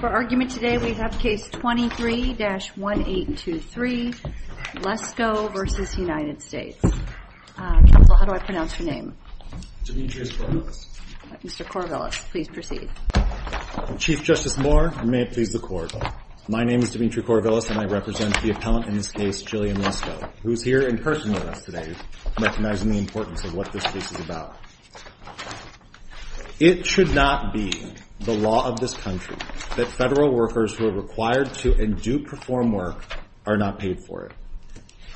For argument today, we have case 23-1823, Lesko v. United States. Counsel, how do I pronounce your name? Demetrius Corvillis. Mr. Corvillis, please proceed. Chief Justice Moore, and may it please the Court, my name is Demetrius Corvillis and I represent the appellant in this case, Jillian Lesko, who is here in person with us today recognizing the importance of what this case is about. It should not be the law of this country that federal workers who are required to and do perform work are not paid for it.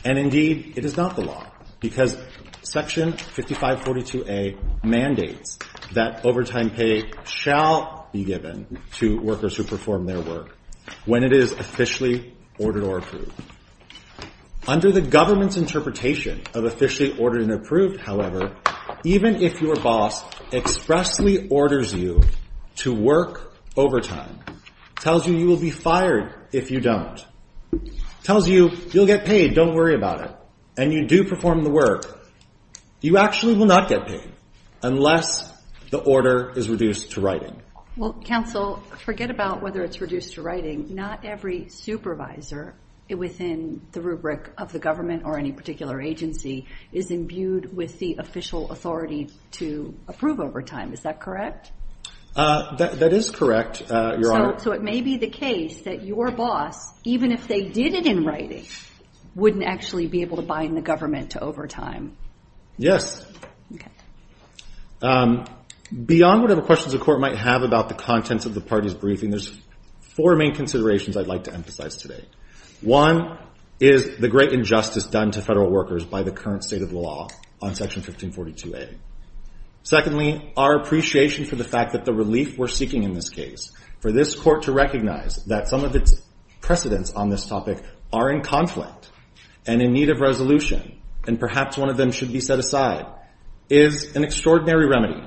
And indeed, it is not the law, because Section 5542A mandates that overtime pay shall be given to workers who perform their work when it is officially ordered or approved. Under the government's interpretation of officially ordered and approved, however, even if your boss expressly orders you to work overtime, tells you you will be fired if you don't, tells you you'll get paid, don't worry about it, and you do perform the work, you actually will not get paid unless the order is reduced to writing. Well, counsel, forget about whether it's reduced to writing. Not every supervisor within the rubric of the government or any particular agency is imbued with the official authority to approve overtime. Is that correct? That is correct, Your Honor. So it may be the case that your boss, even if they did it in writing, wouldn't actually be able to bind the government to overtime. Yes. Okay. Beyond whatever questions the Court might have about the contents of the party's briefing, there's four main considerations I'd like to emphasize today. One is the great injustice done to federal workers by the current state of the law on Section 1542A. Secondly, our appreciation for the fact that the relief we're seeking in this case, for this Court to recognize that some of its precedents on this topic are in conflict and in need of resolution, and perhaps one of them should be set aside, is an extraordinary remedy.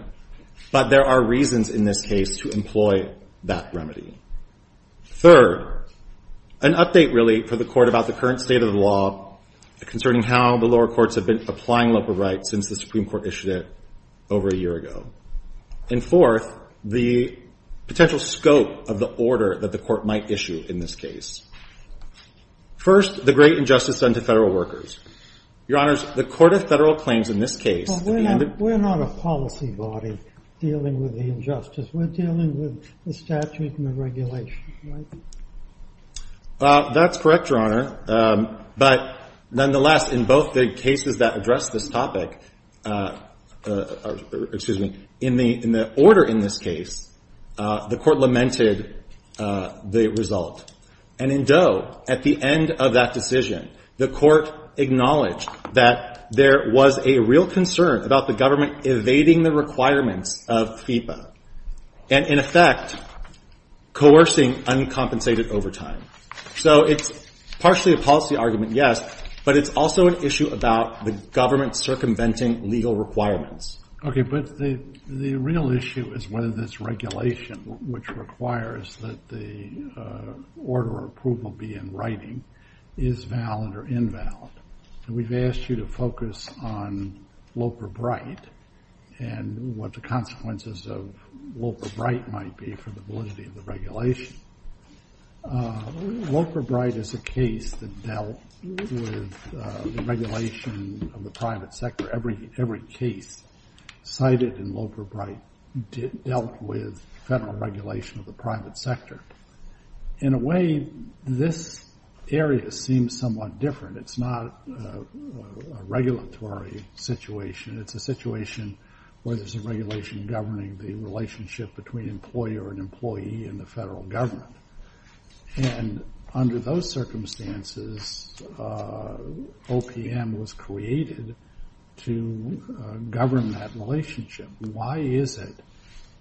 But there are reasons in this case to employ that remedy. Third, an update, really, for the Court about the current state of the law concerning how the lower courts have been applying local rights since the Supreme Court issued it over a year ago. And fourth, the potential scope of the order that the Court might issue in this case. First, the great injustice done to federal workers. Your Honors, the Court of Federal Claims in this case Well, we're not a policy body dealing with the injustice. We're dealing with the statute and the regulation, right? That's correct, Your Honor. But nonetheless, in both the cases that address this topic, in the order in this case, the Court lamented the result. And in Doe, at the end of that decision, the Court acknowledged that there was a real concern about the government evading the requirements of FIPA and, in effect, coercing uncompensated overtime. So it's partially a policy argument, yes, but it's also an issue about the government circumventing legal requirements. Okay, but the real issue is whether this regulation, which requires that the order or approval be in writing, is valid or invalid. And we've asked you to focus on Loper-Bright and what the consequences of Loper-Bright might be for the validity of the regulation. Loper-Bright is a case that dealt with the regulation of the private sector. Every case cited in Loper-Bright dealt with federal regulation of the private sector. In a way, this area seems somewhat different. It's not a regulatory situation. It's a situation where there's a regulation governing the relationship between employer and employee and the federal government. And under those circumstances, OPM was created to govern that relationship. Why is it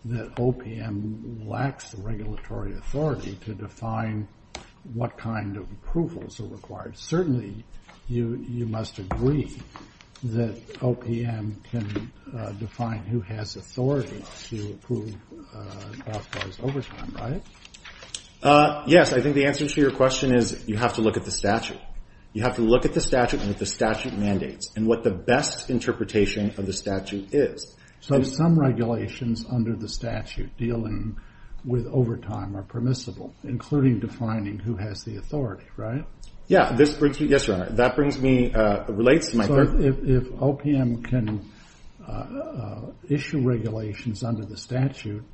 that OPM lacks the regulatory authority to define what kind of approvals are required? Certainly, you must agree that OPM can define who has authority to approve authorized overtime, right? Yes, I think the answer to your question is you have to look at the statute. You have to look at the statute and at the statute mandates and what the best interpretation of the statute is. So some regulations under the statute dealing with overtime are permissible, including defining who has the authority, right? Yes, Your Honor. So if OPM can issue regulations under the statute,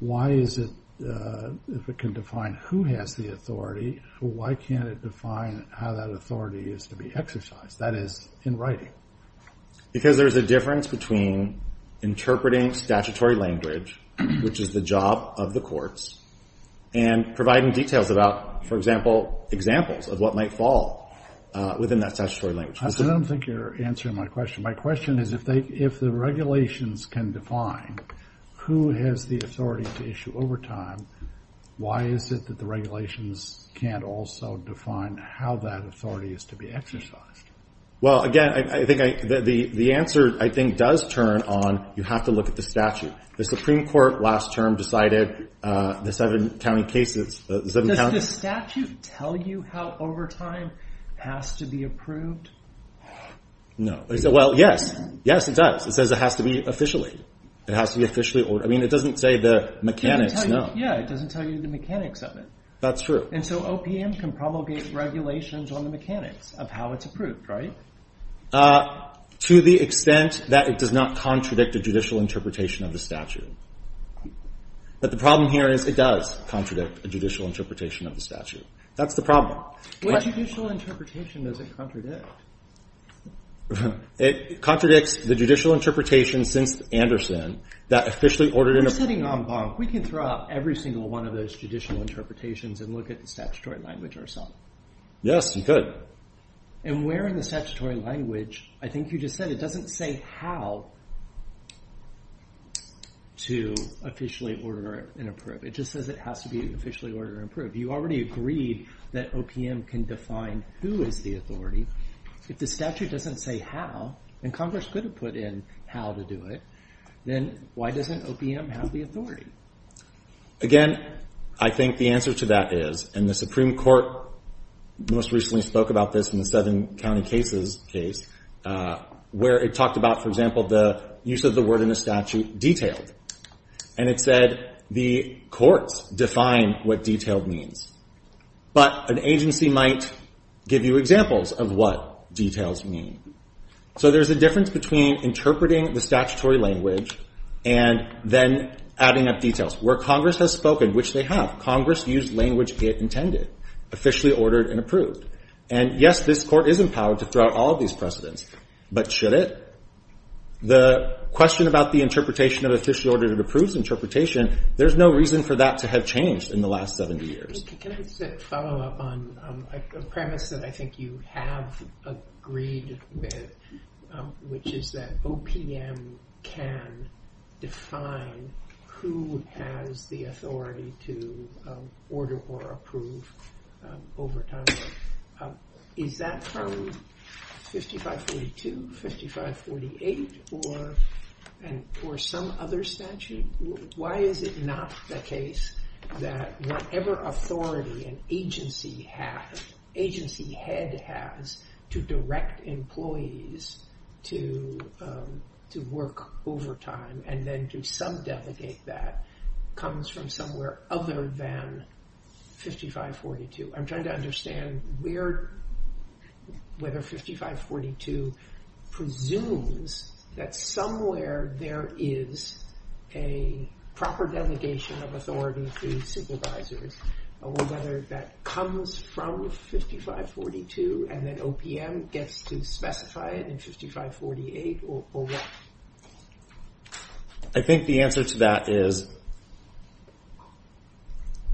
why is it if it can define who has the authority, why can't it define how that authority is to be exercised? That is, in writing. Because there's a difference between interpreting statutory language, which is the job of the courts, and providing details about, for example, examples of what might fall within that statutory language. I don't think you're answering my question. My question is if the regulations can define who has the authority to issue overtime, why is it that the regulations can't also define how that authority is to be exercised? Well, again, I think the answer, I think, does turn on you have to look at the statute. The Supreme Court last term decided the seven county cases... Does the statute tell you how overtime has to be approved? No. Well, yes. Yes, it does. It says it has to be officially. I mean, it doesn't say the mechanics, no. Yeah, it doesn't tell you the mechanics of it. That's true. And so OPM can promulgate regulations on the mechanics of how it's approved, right? To the extent that it does not contradict a judicial interpretation of the statute. But the problem here is it does contradict a judicial interpretation of the statute. That's the problem. What judicial interpretation does it contradict? It contradicts the judicial interpretation since Anderson that officially ordered... You're sitting on bonk. We can throw out every single one of those judicial interpretations and look at the statutory language ourself. Yes, you could. And where in the statutory language, I think you just said, it doesn't say how to officially order and approve. It just says it has to be officially ordered and approved. You already agreed that OPM can define who is the authority. If the statute doesn't say how, and Congress could have put in how to do it, then why doesn't OPM have the authority? Again, I think the answer to that is, and the Supreme Court most recently spoke about this in the Southern County cases case, where it talked about, for example, the use of the word in the statute, detailed. And it said the courts define what detailed means. But an agency might give you examples of what details mean. So there's a difference between interpreting the statutory language and then adding up details. Where Congress has spoken, which they have, Congress used language it intended, officially ordered and approved. And yes, this court is empowered to throw out all of these precedents, but should it? The question about the interpretation of officially ordered and approved interpretation, there's no reason for that to have changed in the last 70 years. Can I just follow up on a premise that I think you have agreed with, which is that OPM can define who has the authority to order or approve overtime. Is that from 5542, 5548, or some other statute? Why is it not the case that whatever authority an agency has, agency head has, to direct employees to work overtime and then to sub-delegate that comes from somewhere other than 5542? I'm trying to understand whether 5542 presumes that somewhere there is a proper delegation of authority through supervisors, or whether that comes from 5542 and then OPM gets to specify it in 5548, or what? I think the answer to that is,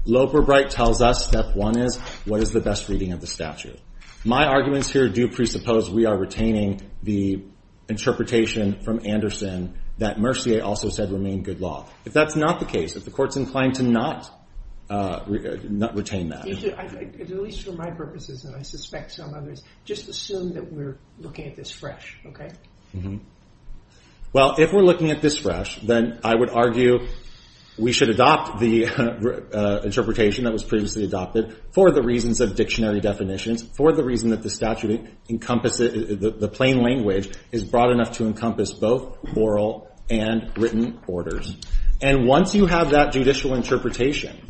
Loeb or Bright tells us step one is what is the best reading of the statute. My arguments here do presuppose we are retaining the interpretation from Anderson that Mercier also said remained good law. If that's not the case, if the court's inclined to not retain that. At least for my purposes, and I suspect some others, just assume that we're looking at this fresh, okay? Well, if we're looking at this fresh, then I would argue we should adopt the interpretation that was previously adopted for the reasons of dictionary definitions, for the reason that the statute encompasses, the plain language is broad enough to encompass both oral and written orders. And once you have that judicial interpretation,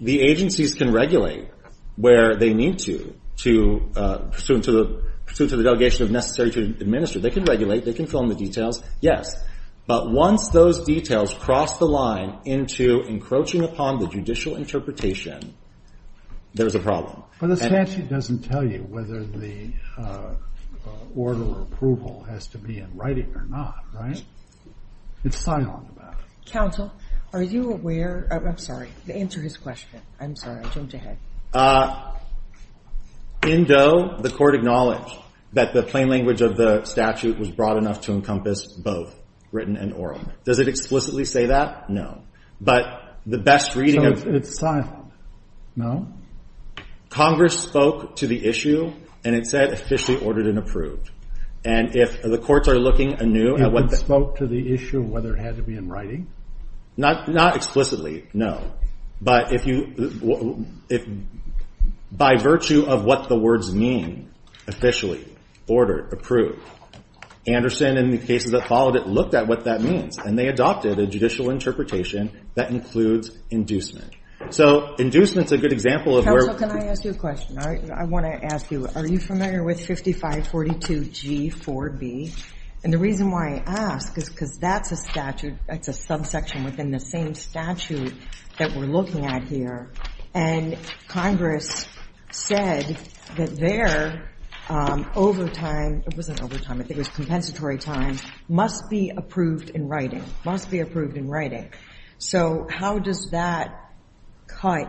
the agencies can regulate where they need to pursuant to the delegation of necessity to administer. They can regulate, they can fill in the details, yes. But once those details cross the line into encroaching upon the judicial interpretation, there's a problem. But the statute doesn't tell you whether the order or approval has to be in writing or not, right? It's silent about it. Counsel, are you aware of, I'm sorry, to answer his question. I'm sorry, I jumped ahead. In Doe, the court acknowledged that the plain language of the statute was broad enough to encompass both written and oral. Does it explicitly say that? No. But the best reading of... So it's silent, no? Congress spoke to the issue and it said officially ordered and approved. And if the courts are looking anew at what... It didn't spoke to the issue of whether it had to be in writing? Not explicitly, no. But if you... By virtue of what the words mean, officially, ordered, approved, Anderson and the cases that followed it looked at what that means and they adopted a judicial interpretation that includes inducement. So inducement's a good example of where... Counsel, can I ask you a question? I want to ask you, are you familiar with 5542G4B? And the reason why I ask is because that's a statute, that's a subsection within the same statute that we're looking at here. And Congress said that there, overtime, it wasn't overtime, I think it was compensatory time, must be approved in writing, must be approved in writing. So how does that cut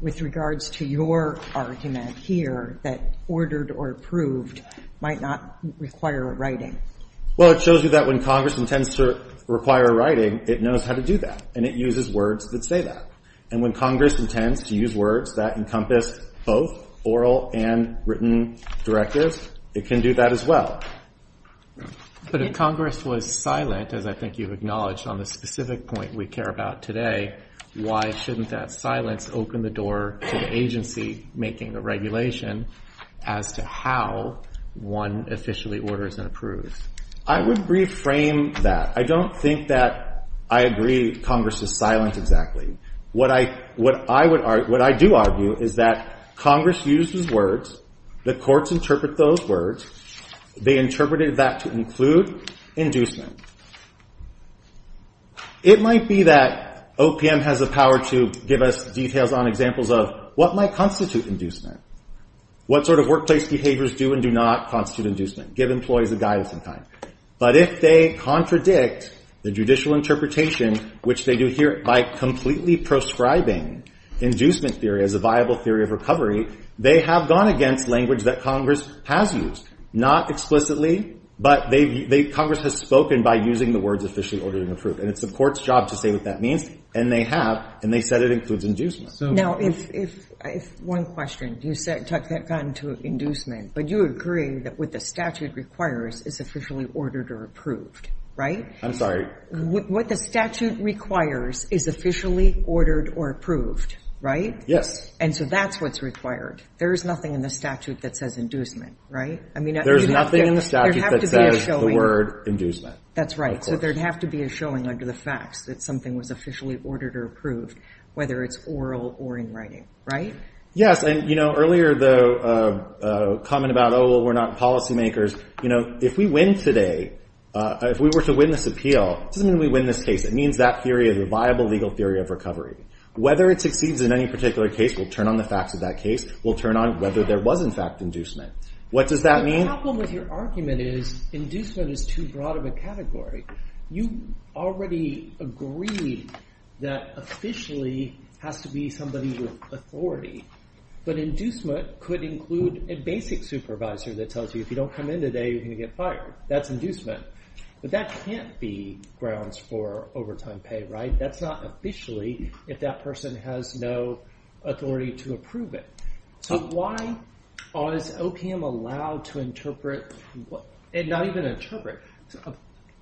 with regards to your argument here that ordered or approved might not require writing? Well, it shows you that when Congress intends to require writing, it knows how to do that and it uses words that say that. And when Congress intends to use words that encompass both oral and written directives, it can do that as well. But if Congress was silent, as I think you've acknowledged on the specific point we care about today, why shouldn't that silence open the door to the agency making the regulation as to how one officially orders and approves? I would reframe that. I don't think that I agree Congress is silent exactly. What I do argue is that Congress uses words, the courts interpret those words, they interpreted that to include inducement. It might be that OPM has the power to give us details on examples of what might constitute inducement, what sort of workplace behaviors do and do not constitute inducement, give employees a guide of some kind. But if they contradict the judicial interpretation, which they do here by completely proscribing inducement theory as a viable theory of recovery, they have gone against language that Congress has used. Not explicitly, but Congress has spoken by using the words officially ordered and approved. And it's the court's job to say what that means, and they have, and they said it includes inducement. Now, if one question, you said, that got into inducement, but you agree that what the statute requires is officially ordered or approved, right? I'm sorry? What the statute requires is officially ordered or approved, right? Yes. And so that's what's required. There is nothing in the statute that says inducement, right? There's nothing in the statute that says the word inducement. That's right. So there'd have to be a showing under the facts that something was officially ordered or approved, whether it's oral or in writing, right? Yes, and you know, earlier the comment about, oh, well, we're not policymakers. You know, if we win today, if we were to win this appeal, it doesn't mean we win this case. It means that theory is a viable legal theory of recovery. Whether it succeeds in any particular case, we'll turn on the facts of that case. We'll turn on whether there was, in fact, inducement. What does that mean? The problem with your argument is inducement is too broad of a category. You already agree that officially has to be somebody with authority, but inducement could include a basic supervisor that tells you if you don't come in today, you're going to get fired. That's inducement. But that can't be grounds for overtime pay, right? That's not officially if that person has no authority to approve it. So why is OPM allowed to interpret, not even interpret,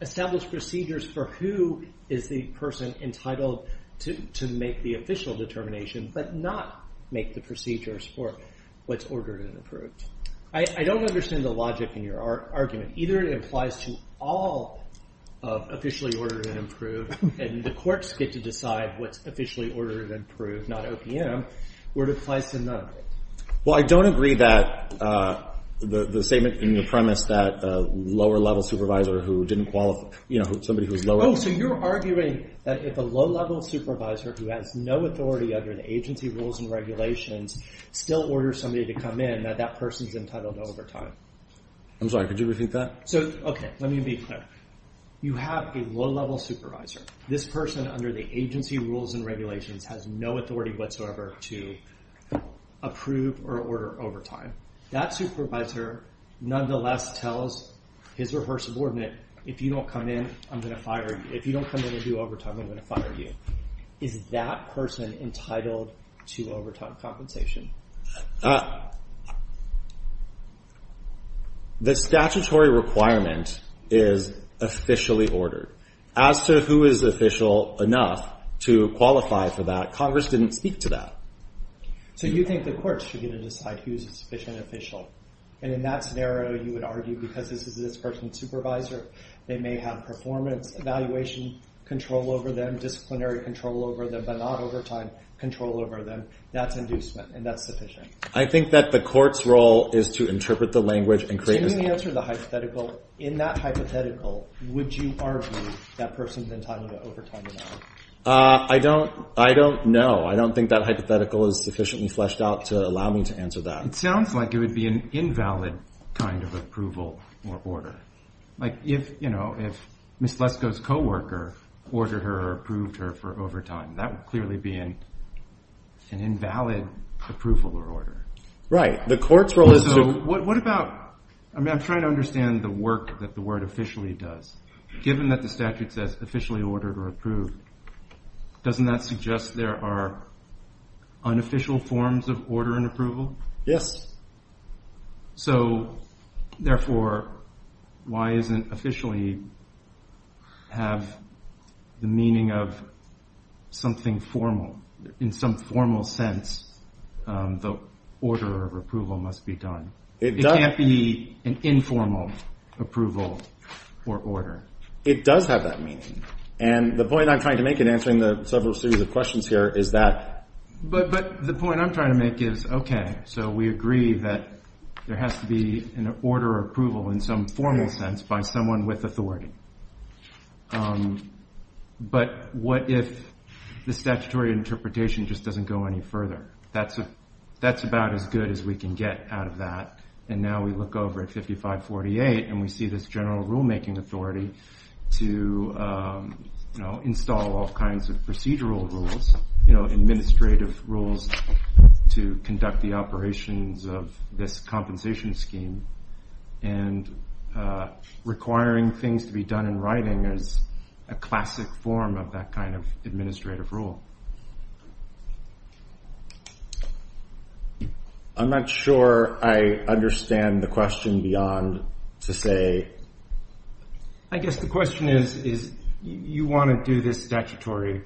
establish procedures for who is the person entitled to make the official determination but not make the procedures for what's ordered and approved? I don't understand the logic in your argument. Either it implies to all of officially ordered and approved, and the courts get to decide what's officially ordered and approved, not OPM, or it implies to none of it. Well, I don't agree that the statement in your premise that a lower-level supervisor who didn't qualify... Oh, so you're arguing that if a low-level supervisor who has no authority under the agency rules and regulations still orders somebody to come in, that that person's entitled to overtime. I'm sorry, could you repeat that? Okay, let me be clear. You have a low-level supervisor. This person under the agency rules and regulations has no authority whatsoever to approve or order overtime. That supervisor, nonetheless, tells his rehearsed subordinate, if you don't come in, I'm going to fire you. If you don't come in and do overtime, I'm going to fire you. Is that person entitled to overtime compensation? The statutory requirement is officially ordered. As to who is official enough to qualify for that, Congress didn't speak to that. So you think the courts should get to decide who's a sufficient official. And in that scenario, you would argue because this is this person's supervisor, they may have performance evaluation control over them, disciplinary control over them, but not overtime control over them. That's inducement, and that's sufficient. I think that the court's role is to interpret the language and create a... Can you answer the hypothetical? In that hypothetical, would you argue that person's entitled to overtime or not? I don't... I don't know. I don't think that hypothetical is sufficiently fleshed out to allow me to answer that. It sounds like it would be an invalid kind of approval or order. Like if, you know, if Ms. Lesko's co-worker ordered her or approved her for overtime, that would clearly be an invalid approval or order. Right. The court's role is to... So what about... I mean, I'm trying to understand the work that the word officially does. Given that the statute says officially ordered or approved, doesn't that suggest there are unofficial forms of order and approval? Yes. So, therefore, why doesn't officially have the meaning of something formal? In some formal sense, the order of approval must be done. It can't be an informal approval or order. It does have that meaning. And the point I'm trying to make in answering the several series of questions here is that... But the point I'm trying to make is, okay, so we agree that there has to be an order of approval in some formal sense by someone with authority. But what if the statutory interpretation just doesn't go any further? That's about as good as we can get out of that. And now we look over at 5548, and we see this general rulemaking authority to install all kinds of procedural rules, administrative rules to conduct the operations of this compensation scheme. And requiring things to be done in writing is a classic form of that kind of administrative rule. I'm not sure I understand the question beyond to say... I guess the question is you want to do this statutory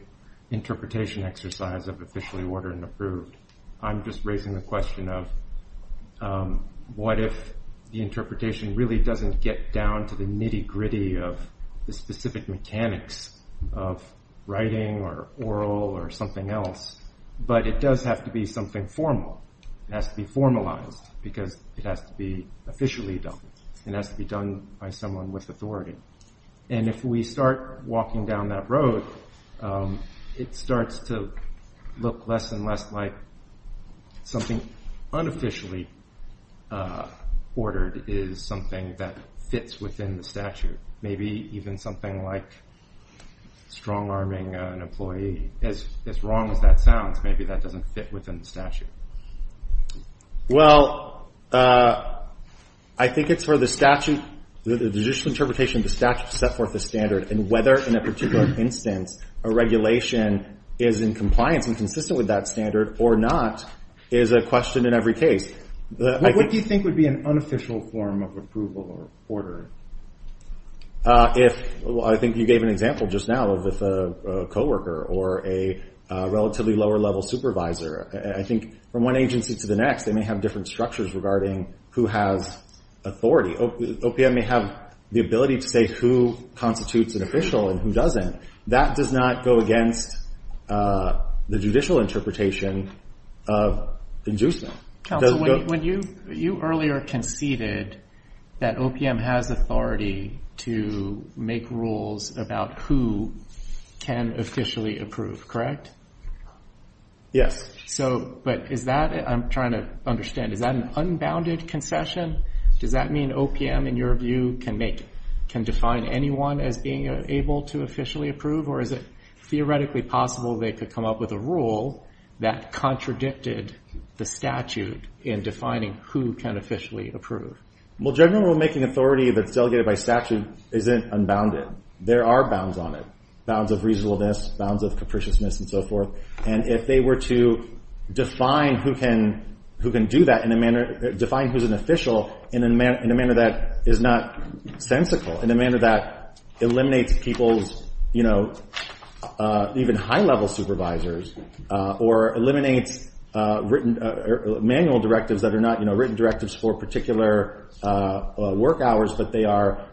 interpretation exercise of officially ordered and approved. I'm just raising the question of what if the interpretation really doesn't get down to the nitty gritty of the specific mechanics of writing or oral or something else, but it does have to be something formal. It has to be formalized because it has to be and has to be done by someone with authority. And if we start walking down that road, it starts to look less and less like something unofficially ordered is something that fits within the statute. Maybe even something like strong-arming an employee. As wrong as that sounds, maybe that doesn't fit within the statute. Well, I think it's where the statute, the judicial interpretation of the statute set forth a standard and whether in a particular instance a regulation is in compliance and consistent with that standard or not is a question in every case. What do you think would be an unofficial form of approval or order? I think you gave an example just now of a co-worker or a relatively lower-level supervisor. I think from one agency to the next, they may have different structures regarding who has authority. OPM may have the ability to say who constitutes an official and who doesn't. That does not go against the judicial interpretation of inducement. When you earlier conceded that OPM has authority to make rules about who can officially approve, Yes. I'm trying to understand. Is that an unbounded concession? Does that mean OPM, in your view, can define anyone as being able to officially approve or is it theoretically possible they could come up with a rule that contradicted the statute in defining who can officially approve? General rulemaking authority that's delegated by statute isn't unbounded. There are bounds on it. Bounds of reasonableness, bounds of capriciousness, and so forth. If they were to define who can do that, define who's an official in a manner that is not sensical, in a manner that eliminates people's even high-level supervisors or eliminates manual directives that are not written directives for particular work hours, but they are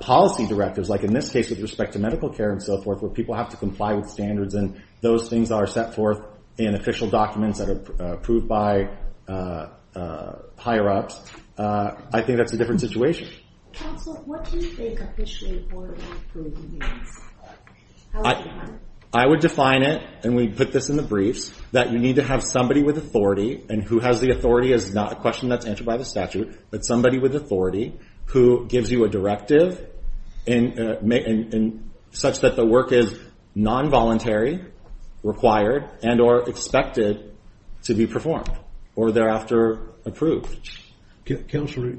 policy directives like in this case with respect to medical care and so forth where people have to comply with standards and those things are set forth in official documents that are approved by higher-ups, I think that's a different situation. Counsel, what do you think officially approving means? I would define it, and we put this in the briefs, that you need to have somebody with authority and who has the authority is not a question that's answered by the statute, but somebody with authority who gives you a directive such that the work is non-voluntary, required, and or expected to be performed or thereafter approved. Counselor,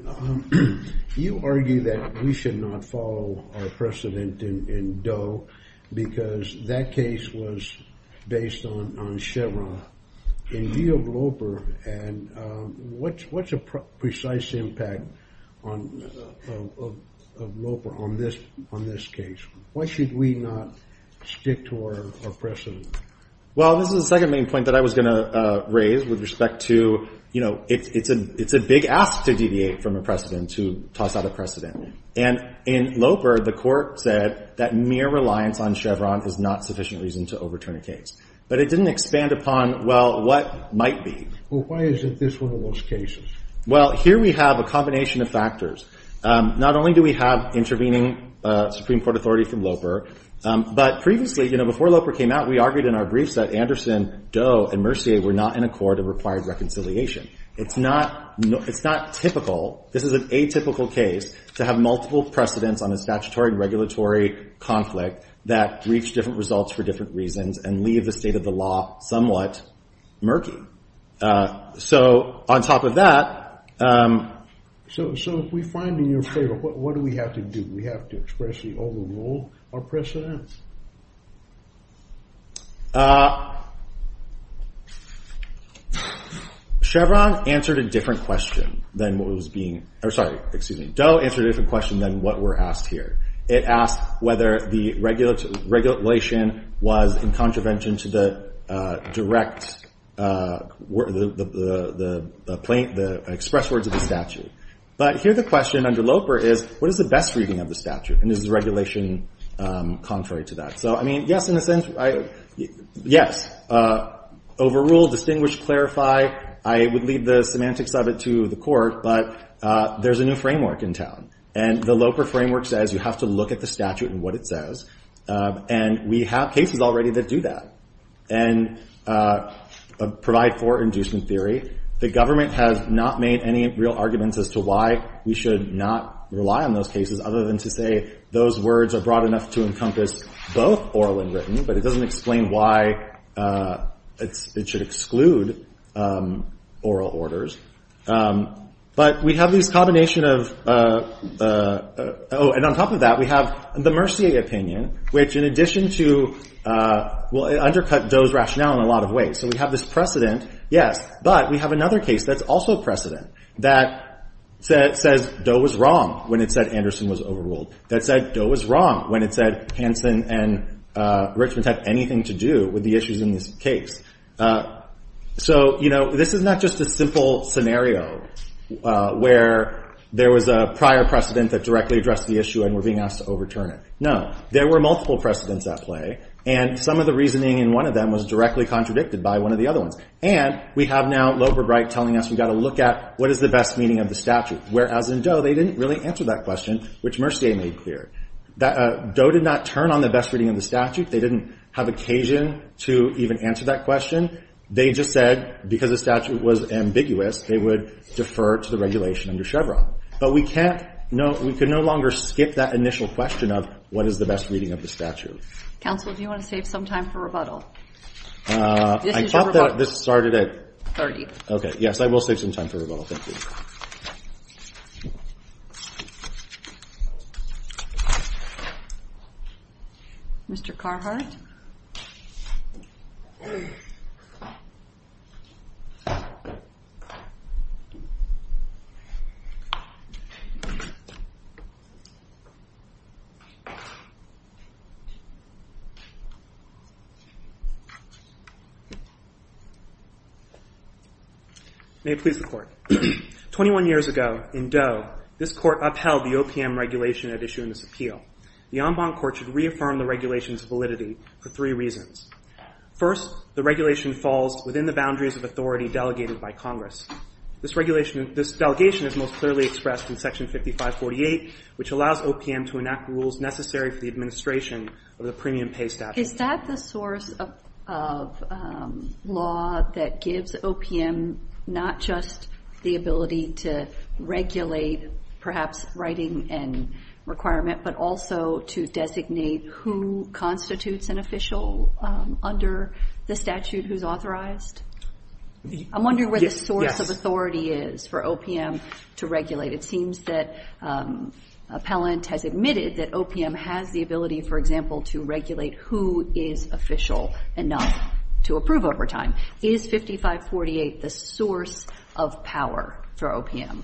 you argue that we should not follow our precedent in Doe because that case was based on Chevron. In view of Loper, what's a precise impact of Loper on this case? Why should we not stick to our precedent? Well, this is the second main point that I was going to raise with respect to, you know, it's a big ask to deviate from a precedent, to toss out a precedent. And in Loper, the court said that mere reliance on Chevron is not sufficient reason to overturn a case. But it didn't expand upon, well, what might be. Well, why is it this one of those cases? Well, here we have a combination of factors. Not only do we have intervening Supreme Court authorities from Loper, but previously, you know, before Loper came out, we argued in our briefs that Anderson, Doe, and Mercier were not in accord and required reconciliation. It's not typical. This is an atypical case to have multiple precedents on a statutory and regulatory conflict that reach different results for different reasons and leave the state of the law somewhat murky. So on top of that... So if we find in your favor, what do we have to do? Do we have to expressly overrule our precedents? Chevron answered a different question than what was being... Oh, sorry. Excuse me. Doe answered a different question than what we're asked here. It asked whether the regulation was in contravention to the direct... the express words of the statute. But here the question under Loper is, what is the best reading of the statute? And is the regulation contrary to that? So, I mean, yes, in a sense... Yes. Overrule, distinguish, clarify. I would leave the semantics of it to the court, but there's a new framework in town. And the Loper framework says you have to look at the statute and what it says. And we have cases already that do that and provide for inducement theory. The government has not made any real arguments as to why we should not rely on those cases other than to say those words are broad enough to encompass both oral and written, but it doesn't explain why it should exclude oral orders. But we have this combination of... Oh, and on top of that, we have the Mercier opinion, which in addition to... Well, it undercut Doe's rationale in a lot of ways. So we have this precedent, yes, but we have another case that's also precedent, that says Doe was wrong when it said Anderson was overruled. That said Doe was wrong when it said Hanson and Richmond had anything to do with the issues in this case. So, you know, this is not just a simple scenario where there was a prior precedent that directly addressed the issue and we're being asked to overturn it. No. There were multiple precedents at play, and some of the reasoning in one of them was directly contradicted by one of the other ones. And we have now Loper right telling us we've got to look at what is the best meaning of the statute, whereas in Doe they didn't really answer that question, which Mercier made clear. Doe did not turn on the best reading of the statute. They didn't have occasion to even answer that question. They just said because the statute was ambiguous, they would defer to the regulation under Chevron. But we can no longer skip that initial question of what is the best reading of the statute. Counsel, do you want to save some time for rebuttal? I thought that this started at... 30. Okay. Yes, I will save some time for rebuttal. Thank you. Mr. Carhart? May it please the Court. 21 years ago, in Doe, this Court upheld the OPM regulation at issue in this appeal. The en banc Court should reaffirm the regulation's validity for three reasons. First, the regulation falls within the boundaries of authority delegated by Congress. This delegation is most clearly expressed in Section 5548, which allows OPM to enact rules necessary for the administration of the premium pay statute. Is that the source of law that gives OPM not just the ability to regulate, perhaps, writing and requirement, but also to designate who constitutes an official under the statute who's authorized? I'm wondering where the source of authority is for OPM to regulate. It seems that appellant has admitted that OPM has the ability, for example, to regulate who is official enough to approve over time. Is 5548 the source of power for OPM?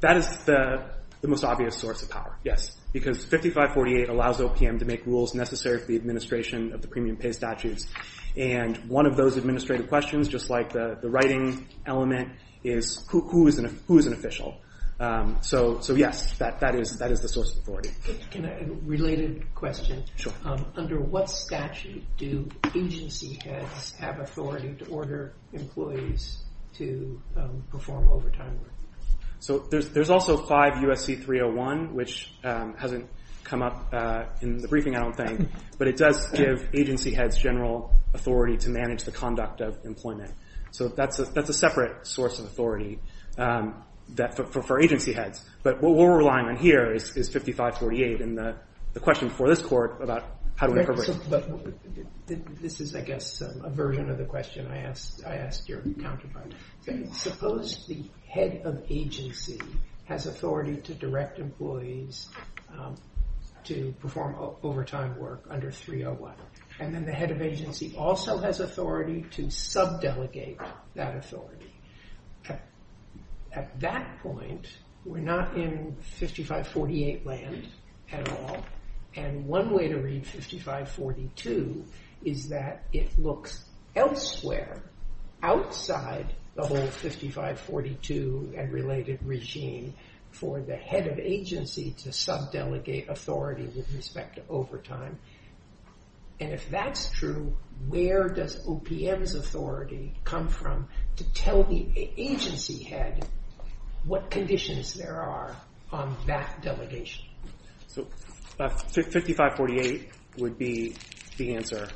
That is the most obvious source of power, yes. Because 5548 allows OPM to make rules necessary for the administration of the premium pay statutes. And one of those administrative questions, just like the writing element, is who is an official? So, yes, that is the source of authority. Related question. Under what statute do agency heads have authority to order employees to perform overtime work? There's also 5 U.S.C. 301, which hasn't come up in the briefing, I don't think, but it does give agency heads general authority to manage the conduct of employment. So that's a separate source of authority for agency heads. But what we're relying on here is 5548 and the question before this Court about how do we operate. This is, I guess, a version of the question I asked your counterpart. Suppose the head of agency has authority to direct employees to perform overtime work under 301. And then the head of agency also has authority to sub-delegate that authority. At that point, we're not in 5548 land at all. And one way to read 5542 is that it looks elsewhere, outside the whole 5542 and related regime for the head of agency to sub-delegate authority with respect to overtime. And if that's true, where does OPM's authority come from to tell the agency head what conditions there are on that delegation? So 5548 would be the answer.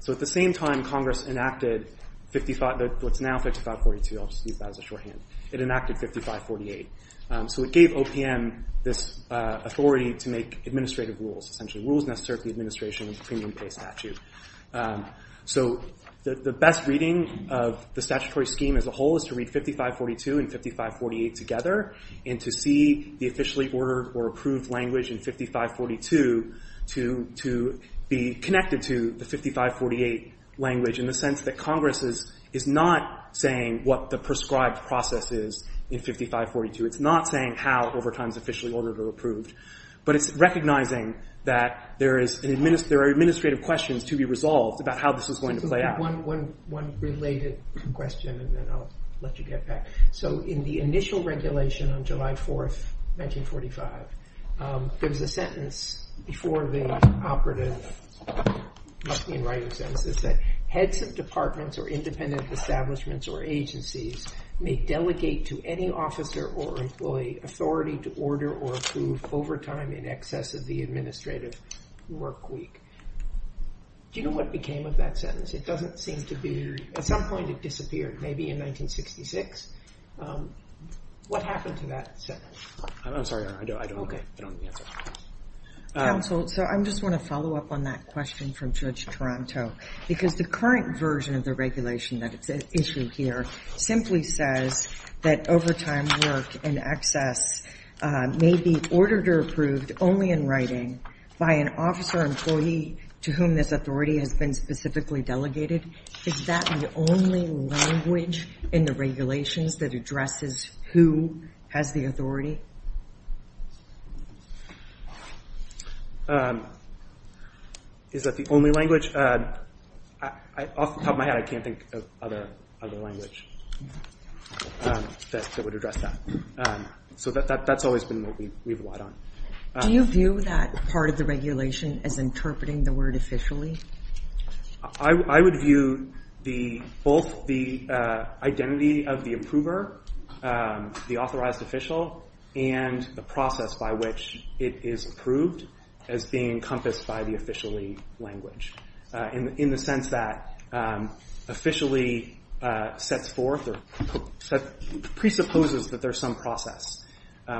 So at the same time, Congress enacted 55, what's now 5542, I'll just use that as a shorthand. It enacted 5548. So it gave OPM this authority to make administrative rules, essentially rules necessary for the administration of the premium pay statute. So the best reading of the statutory scheme as a whole is to read 5542 and 5548 together and to see the officially ordered or approved language in 5542 to be connected to the 5548 language in the sense that Congress is not saying what the prescribed process is in 5542. It's not saying how overtime is officially ordered or approved. But it's recognizing that there are administrative questions to be resolved about how this is going to play out. One related question and then I'll let you get back. So in the initial regulation on July 4th, 1945, there was a sentence before the operative in writing that said heads of departments or independent establishments or agencies may delegate to any officer or employee authority to order or approve overtime in excess of the administrative work week. Do you know what became of that sentence? It doesn't seem to be, at some point it disappeared, maybe in 1966. What happened to that sentence? I'm sorry, I don't know the answer. Counsel, so I just want to follow up on that question from Judge Taranto because the current version of the regulation that is issued here simply says that overtime work in excess may be ordered or approved only in writing by an officer or employee to whom this authority has been specifically delegated. Is that the only language in the regulations that addresses who has the authority? Is that the only language? Off the top of my head, I can't think of other language that would address that. So that's always been what we relied on. Do you view that part of the regulation as interpreting the word officially? I would view both the identity of the approver, the authorized official, and the process by which it is approved as being encompassed by the officially language. In the sense that officially sets forth or presupposes that there's some process,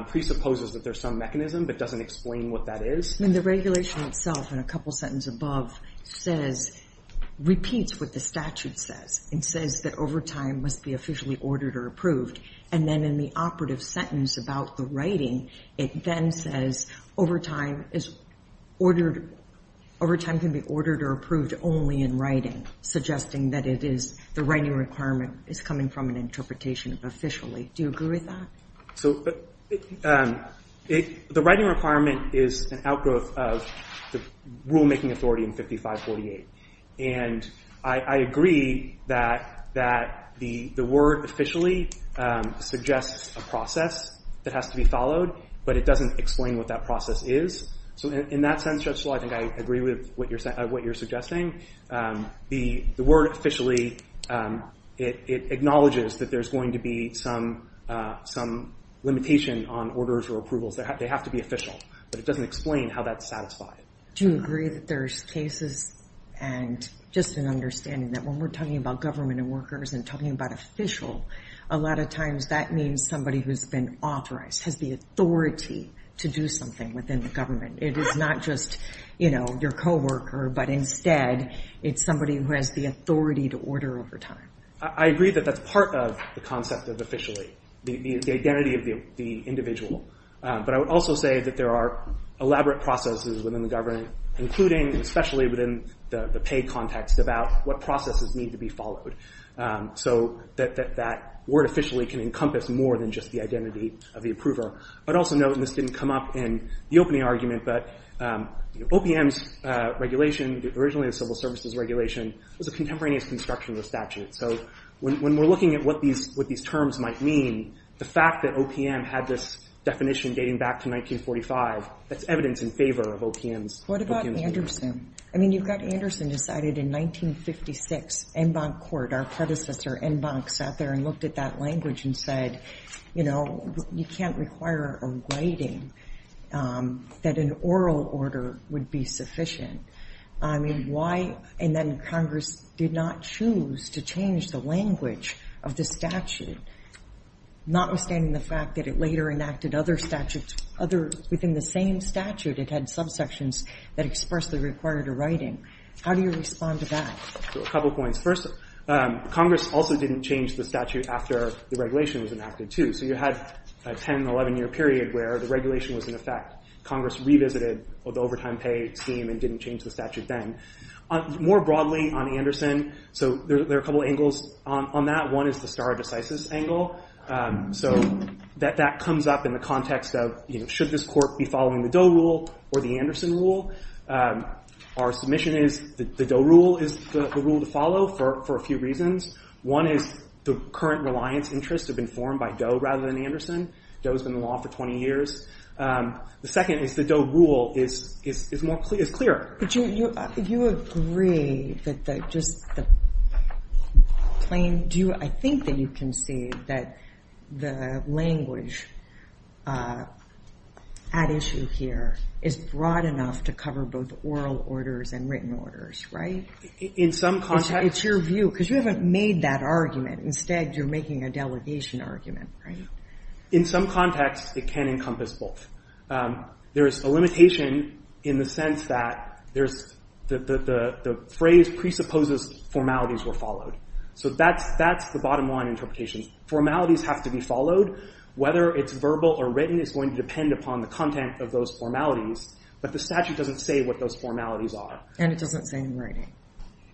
presupposes that there's some mechanism, but doesn't explain what that is. In the regulation itself, in a couple sentences above, says, repeats what the statute says. It says that overtime must be officially ordered or approved. And then in the operative sentence about the writing, it then says overtime is ordered, overtime can be ordered or approved only in writing, suggesting that it is the writing requirement is coming from an interpretation of officially. Do you agree with that? The writing requirement is an outgrowth of the rulemaking authority in 5548. And I agree that the word officially suggests a process that has to be followed, but it doesn't explain what that process is. In that sense, Judge Schill, I think I agree with what you're suggesting. The word officially acknowledges that there's going to be some limitation on orders or approvals. They have to be official. But it doesn't explain how that's satisfied. Do you agree that there's cases and just an understanding that when we're talking about government and workers and talking about official, a lot of times that means somebody who's been authorized, has the authority to do something within the government. It is not just your co-worker, but instead, it's somebody who has the authority to order overtime. I agree that that's part of the concept of officially. The identity of the individual. But I would also say that there are elaborate processes within the government, including, especially within the pay context, about what processes need to be followed. So that word officially can encompass more than just the identity of the approver. But also note, and this didn't come up in the opening argument, but OPM's regulation, originally the Civil Services Regulation, was a contemporaneous construction of the statute. So when we're looking at what these terms might mean, the fact that OPM had this definition dating back to 1945, that's evidence in favor of OPM's behavior. What about Anderson? I mean, you've got Anderson decided in 1956, Enbonc Court, our predecessor, Enbonc, sat there and looked at that language and said, you know, you can't require a writing that an oral order would be sufficient. I mean, why and then Congress did not choose to change the language of the statute, notwithstanding the fact that it later enacted other statutes, within the same statute it had subsections that expressly required a writing. How do you respond to that? A couple points. First, Congress also didn't change the statute after the regulation was enacted, too. So you had a 10, 11 year period where the regulation was in effect. Congress revisited the overtime pay scheme and didn't change the statute then. More broadly on Anderson, so there are a couple angles on that. One is the stare decisis angle. So that comes up in the context of, you know, should this court be following the Doe rule or the Anderson rule? Our submission is the Doe rule is the rule to follow for a few reasons. One is the current reliance interests have been formed by Doe rather than Anderson. Doe's been in law for 20 years. The second is the Doe rule is clear. Do you agree that the plain I think that you can see that the language at issue here is broad enough to cover both oral orders and written orders, right? In some context. It's your view because you haven't made that argument. Instead you're making a delegation argument, right? In some context, it can encompass both. There is a limitation in the sense that the phrase presupposes formalities were followed. So that's the bottom line interpretation. Formalities have to be followed whether it's verbal or written is going to depend upon the content of those formalities, but the statute doesn't say what those formalities are. And it doesn't say in writing.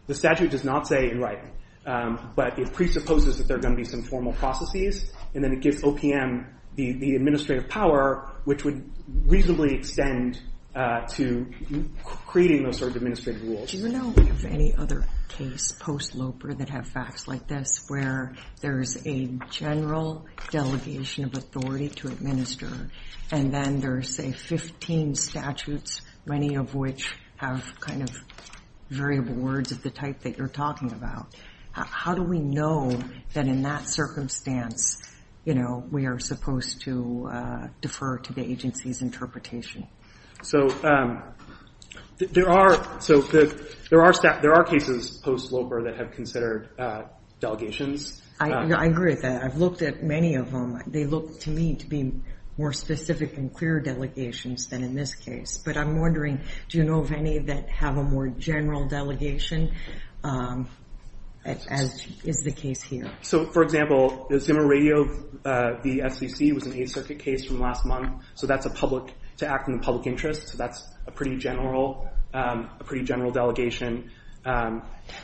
The statute does not say in writing, but it presupposes that there are going to be some formal processes and then it gives OPM the administrative power which would reasonably extend to creating those sort of administrative rules. Do you know of any other case post-Loper that have facts like this where there's a general delegation of authority to administer and then there's say 15 statutes, many of which have kind of variable words of the type that you're talking about. How do we know that in that circumstance we are supposed to defer to the agency's interpretation? there are cases post-Loper that have considered delegations. I agree with that. I've looked at many of them. They look to me to be more specific and clear delegations than in this case. But I'm wondering do you know of any that have a more general delegation as is the case here? So for example, Zimmer Radio v. FCC was an 8th Circuit case from last month. So that's to act in the public interest. So that's a pretty general delegation.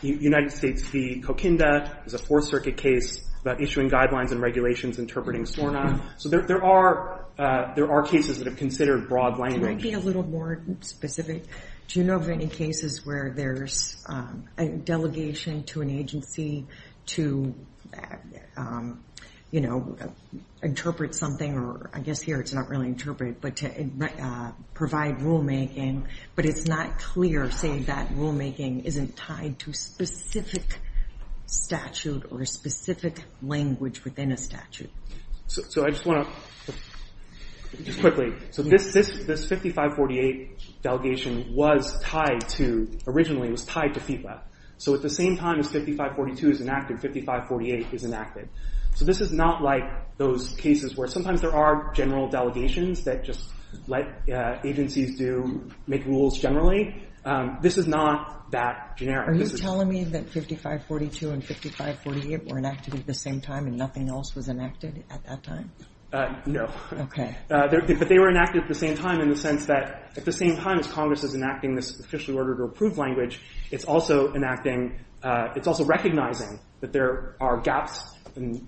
United States v. Coquinda is a 4th Circuit case about issuing guidelines and regulations interpreting SORNA. So there are cases that have considered broad language. Can I be a little more specific? Do you know of any cases where there's a delegation to an agency to interpret something or I guess here it's not really interpret but to provide rulemaking but it's not clear say that rulemaking isn't tied to specific statute or specific language within a statute. So I just want to quickly, so this 5548 delegation was tied to, originally was tied to FIPA. So at the same time as 5542 is enacted, 5548 is enacted. So this is not like those cases where sometimes there are general delegations that just let agencies do make rules generally. This is not that generic. Are you telling me that 5542 and 5548 were enacted at the same time and nothing else was enacted at that time? No. But they were enacted at the same time in the sense that at the same time as Congress is enacting this officially ordered or approved language it's also enacting it's also recognizing that there are gaps and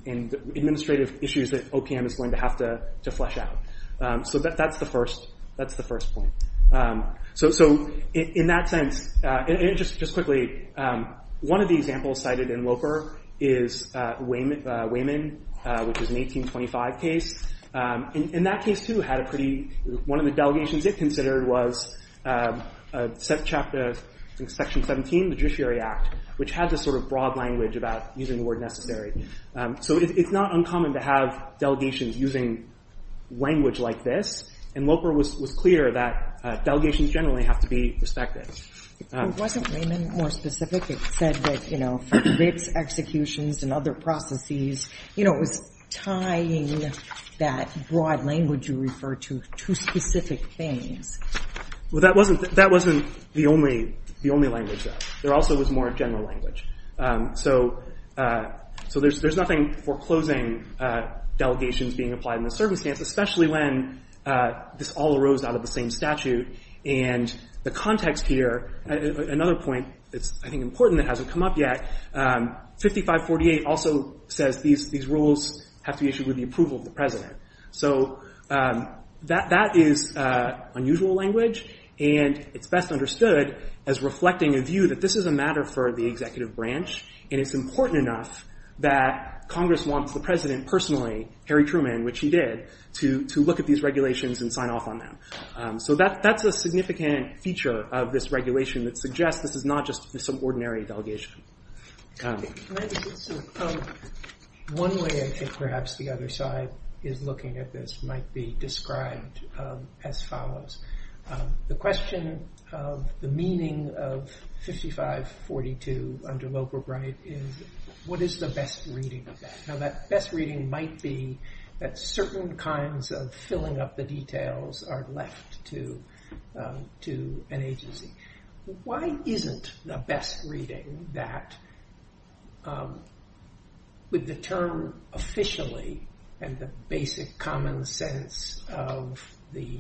administrative issues that OPM is going to have to flesh out. So that's the first point. So in that sense and just quickly one of the examples cited in Loper is Wayman, which is an 1825 case. In that case too had a pretty, one of the delegations it considered was section 17 the Judiciary Act, which had this sort of broad language about using the word necessary. So it's not uncommon to have delegations using language like this. And Loper was clear that delegations generally have to be respected. Wasn't Wayman more specific? It said that for executions and other processes it was tying that broad language you referred to to specific things. Well that wasn't the only language though. There also was more general language. So there's nothing foreclosing delegations being applied in this circumstance especially when this all arose out of the same statute and the context here another point that's I think important that hasn't come up yet 5548 also says these rules have to be issued with the approval of the that is unusual language and it's best understood as reflecting a view that this is a matter for the executive branch and it's important enough that Congress wants the President personally Harry Truman, which he did to look at these regulations and sign off on them. So that's a significant feature of this regulation that suggests this is not just some ordinary delegation. One way I think perhaps the other side is looking at this might be described as follows. The question of the meaning of 5542 under Wilbur Bright is what is the best reading of that? Now that best reading might be that certain kinds of filling up the details are left to an agency. Why isn't the best reading that with the term officially and the basic common sense of the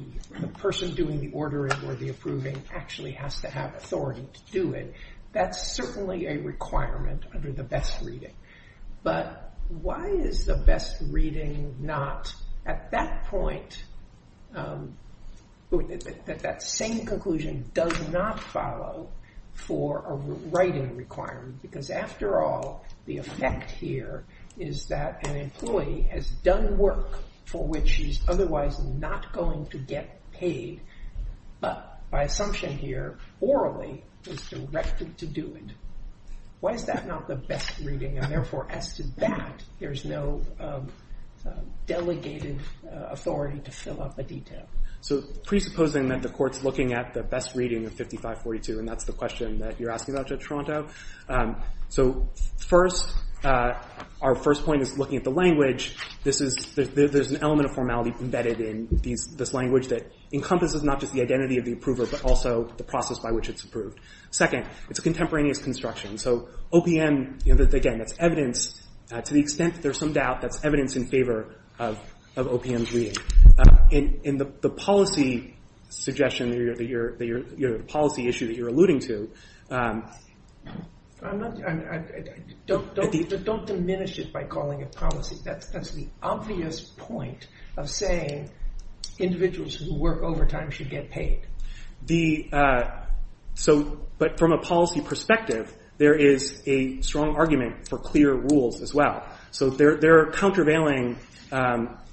person doing the ordering or the approving actually has to have authority to do it. That's certainly a requirement under the best reading. But why is the best reading not at that point that that same conclusion does not follow for a writing requirement because after all the effect here is that an employee has done work for which he's otherwise not going to get paid but by assumption here orally is directed to do it. Why is that not the best reading and therefore as to that there's no delegated authority to fill up a detail. So presupposing that the court's looking at the best reading of 5542 and that's the question that you're asking about Judge Toronto. So first our first point is looking at the language. There's an element of formality embedded in this language that encompasses not just the identity of the approver but also the process by which it's approved. Second, it's a contemporaneous construction. So OPM, again that's evidence to the extent that there's some doubt that's evidence in favor of OPM's reading. In the policy suggestion that your policy issue that you're alluding to. Don't diminish it by calling it policy. That's the obvious point of saying individuals who work overtime should get paid. But from a policy perspective there is a strong argument for clear rules as well. So there are countervailing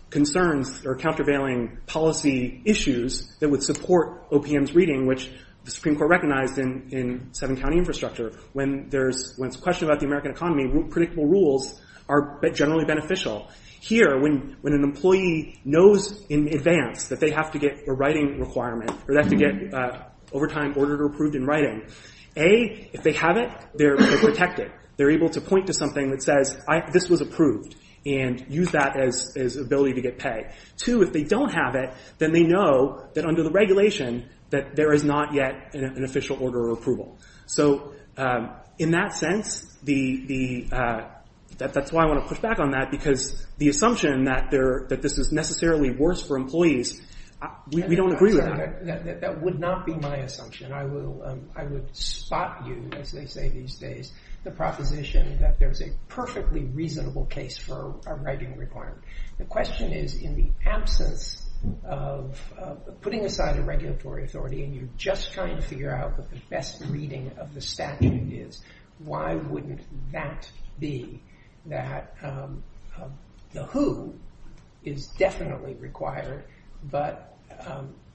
concerns or countervailing policy issues that would support OPM's reading which the Supreme Court recognized in seven county infrastructure. When it's a question about the American economy predictable rules are generally beneficial. Here when an employee knows in advance that they have to get a writing requirement or they have to get overtime ordered or approved in writing. A, if they have it, they're protected. They're able to point to something that says this was approved and use that as ability to get paid. Two, if they don't have it then they know that under the regulation that there is not yet an official order of approval. So in that sense that's why I want to push back on that because the assumption that this is necessarily worse for employees we don't agree with that. That would not be my assumption. I would spot you as they say these days, the proposition that there's a perfectly reasonable case for a writing requirement. The question is in the absence of putting aside a regulatory authority and you're just trying to figure out what the best reading of the statute is. Why wouldn't that be that the who is definitely required but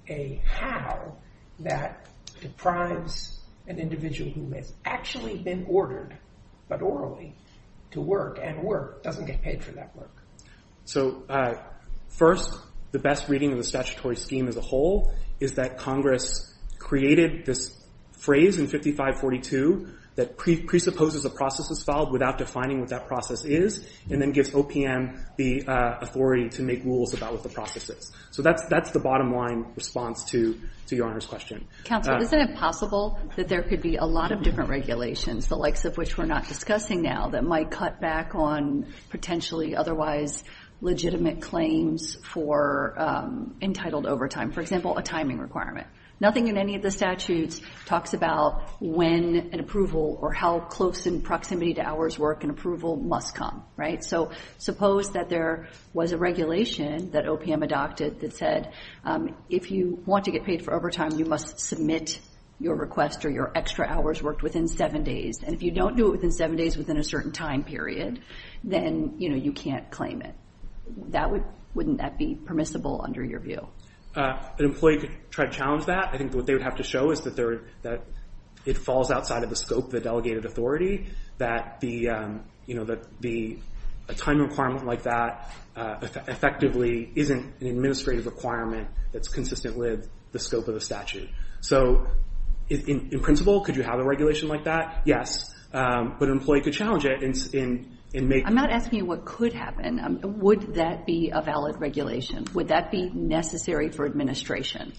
a how that deprives an individual who has actually been ordered but orally to work and work doesn't get paid for that work. So first the best reading of the statutory scheme as a whole is that Congress created this phrase in 5542 that presupposes a process is filed without defining what that process is and then gives OPM the authority to make rules about what the process is. So that's the bottom line response to your Honor's question. Counselor, isn't it possible that there could be a lot of different regulations the likes of which we're not discussing now that might cut back on potentially otherwise legitimate claims for entitled overtime. For example, a timing requirement. Nothing in any of the statutes talks about when an approval or how close in proximity to hours work an approval must come. So suppose that there was a regulation that OPM adopted that said if you want to get paid for overtime you must submit your request or your extra hours worked within seven days. And if you don't do it within seven days within a certain time period, then you can't claim it. Wouldn't that be permissible under your view? An employee could try to challenge that. I think what they would have to show is that it falls outside of the scope of the delegated authority that the timing requirement like that effectively isn't an administrative requirement that's consistent with the scope of the statute. So in principle could you have a regulation like that? Yes. But an employee could challenge it. I'm not asking you what could happen. Would that be a valid regulation? Would that be necessary for administration?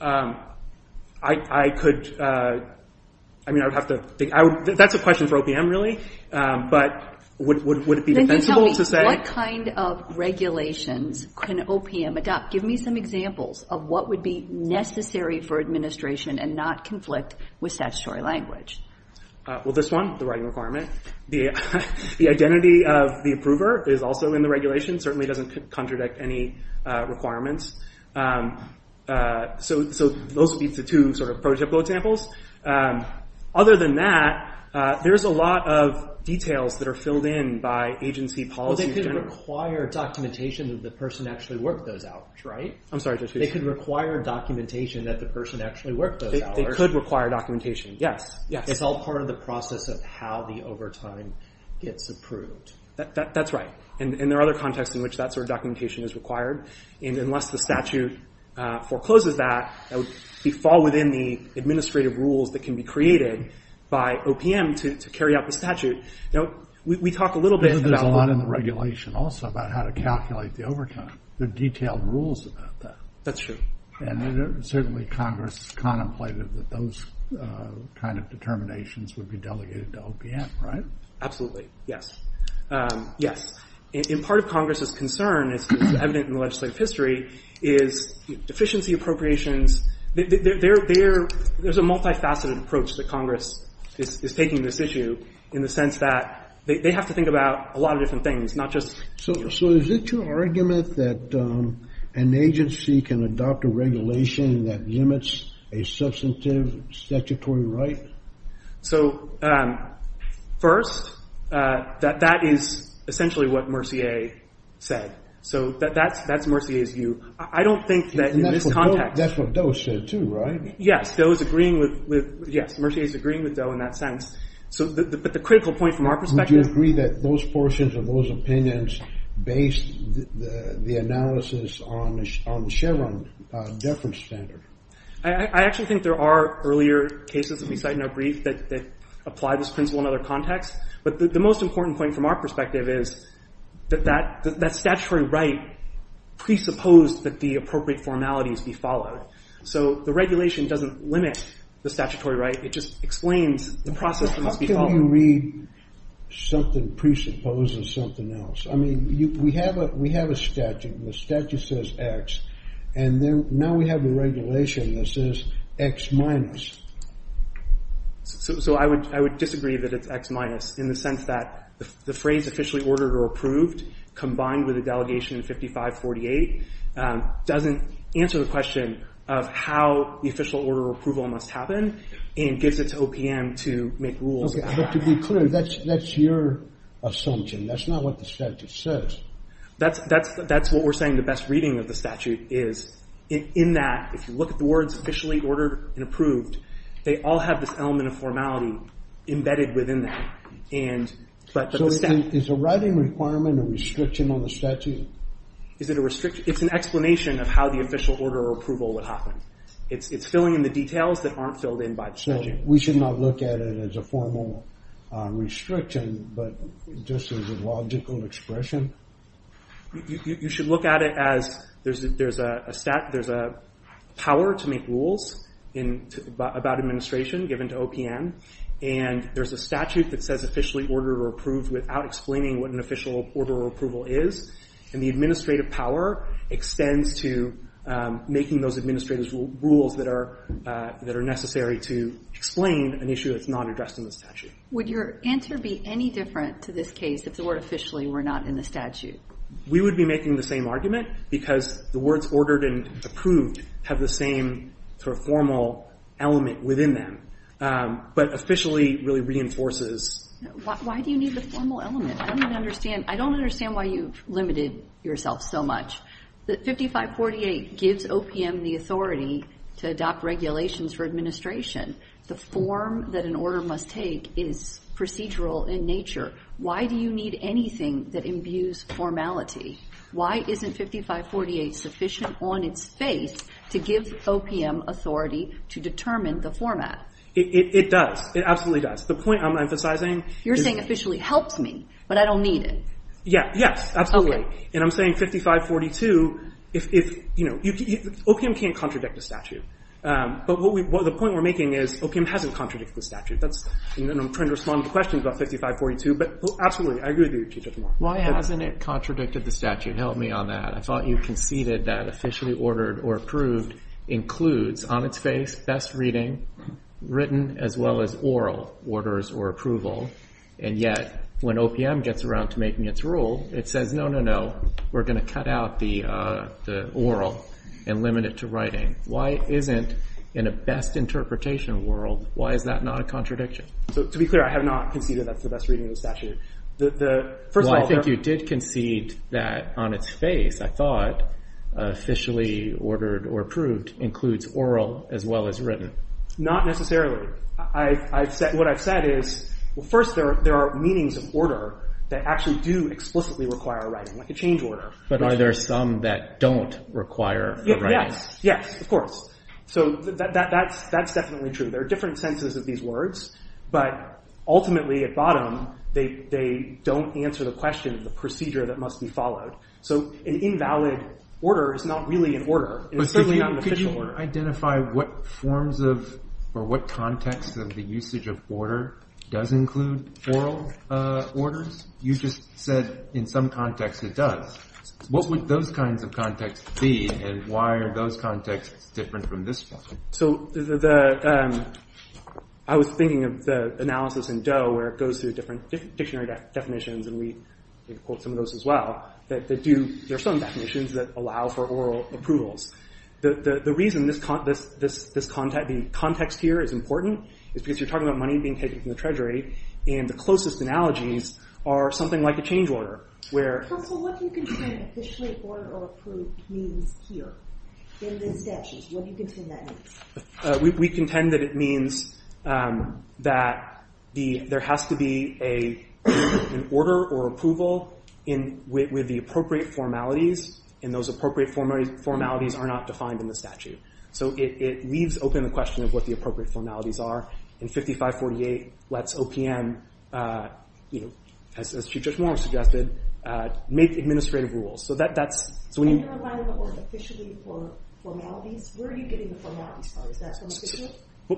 I could I mean I would have to think. That's a question for OPM really. But would it be defensible to say? What kind of regulations can OPM adopt? Give me some examples of what would be necessary for administration and not conflict with statutory language. Well this one, the writing requirement. The identity of the approver is also in the regulation. Certainly doesn't contradict any requirements. So those would be the two sort of prototypical examples. Other than that there's a lot of details that are filled in by agency policy. Well they could require documentation that the person actually worked those out. I'm sorry. They could require documentation that the person actually worked those hours. They could require documentation, yes. It's all part of the process of how the overtime gets approved. That's right. And there are other contexts in which that sort of documentation is required. And unless the statute forecloses that, we fall within the administrative rules that can be created by OPM to carry out the statute. Now we talk a little bit about I know there's a lot in the regulation also about how to calculate the overtime. There are detailed rules about that. That's true. And certainly Congress contemplated that those kind of determinations would be delegated to OPM, right? Absolutely, yes. Yes. And part of Congress' concern, as evident in the legislative history, is deficiency appropriations there's a multifaceted approach that Congress is taking this issue in the sense that they have to think about a lot of different things, not just... So is it your argument that an agency can adopt a regulation that limits a substantive statutory right? first, that is essentially what Mercier said. So that's Mercier's view. I don't think that in this context... And that's what Doe said too, right? Yes. Doe is agreeing with... Yes. Mercier is agreeing with Doe in that sense. But the critical point from our perspective... Would you agree that those portions of those opinions based the analysis on Chevron deference standard? I actually think there are earlier cases that we cite in our brief that apply this principle in other contexts. But the most important point from our perspective is that that statutory right presupposed that the appropriate formalities be followed. So the regulation doesn't limit the statutory right. It just explains the process that must be followed. How can you read something presupposed as something else? I mean, we have a statute. The statute says X. And now we have a regulation that says X minus. So I would disagree that it's X minus in the sense that the phrase officially ordered or approved combined with the delegation of 5548 doesn't answer the question of how the official order of approval must happen and gives it to OPM to make rules. But to be clear, that's your assumption. That's not what the statute says. That's what we're saying. The best reading of the statute is in that if you look at the words officially ordered and approved, they all have this element of formality embedded within that. Is the writing requirement a restriction on the statute? It's an explanation of how the official order of approval would happen. It's filling in the details that aren't filled in by the statute. So we should not look at it as a formal restriction, but just as a logical expression? You should look at it as there's a power to make rules about administration given to OPM. And there's a statute that says officially ordered or approved without explaining what an official order of approval is. And the administrative power extends to making those administrative rules that are necessary to explain an issue that's not addressed in the statute. Would your answer be any different to this case if the word officially were not in the statute? We would be making the same argument because the words ordered and approved have the same sort of formal element within them. But officially really reinforces Why do you need the formal element? I don't even understand. I don't understand why you've limited yourself so much. 5548 gives OPM the authority to adopt regulations for administration. The form that an order must take is procedural in nature. Why do you need anything that imbues formality? Why isn't 5548 sufficient on its face to give OPM authority to determine the format? It does. It absolutely does. The point I'm emphasizing You're saying officially helps me, but I don't need it. Yes, absolutely. And I'm saying 5542 if, you know, OPM can't contradict the statute. But the point we're making is OPM hasn't contradicted the statute. I'm trying to respond to questions about 5542, but absolutely, I agree with you. Why hasn't it contradicted the statute? Help me on that. I thought you conceded that officially ordered or approved includes, on its face, best reading, written, as well as oral orders or approval. And yet, when OPM gets around to making its rule, it says no, no, no, we're going to cut out the oral and limit it to writing. Why isn't in a best interpretation world why is that not a contradiction? To be clear, I have not conceded that's the best reading of the statute. Well, I think you did concede that on its face, I thought, officially ordered or approved includes oral as well as written. Not necessarily. What I've said is first, there are meanings of order that actually do explicitly require writing, like a change order. But are there some that don't require writing? Yes, of course. That's definitely true. There are different senses of these words, but ultimately, at bottom, they don't answer the question of the procedure that must be followed. So an invalid order is not really an order. Could you identify what forms or what context of the usage of order does include oral orders? You just said in some context it does. What would those kinds of contexts be, and why are those contexts different from this one? I was thinking of the analysis in Doe where it goes through different dictionary definitions, and we quote some of those as well, that there are some definitions that allow for oral approvals. The reason this context here is important is because you're talking about money being taken from the treasury, and the closest analogies are something like a change order. Counsel, what do you contend officially order or approval means here in the statutes? What do you contend that means? We contend that it means that there has to be an order or approval with the appropriate formalities, and those appropriate formalities are not defined in the statute. So it leaves open the question of what the appropriate formalities are, and 5548 lets OPM, as Chief Judge Moore suggested, make administrative rules. And you're applying the word officially for formalities? Where are you getting the formalities from? Is that from the statute?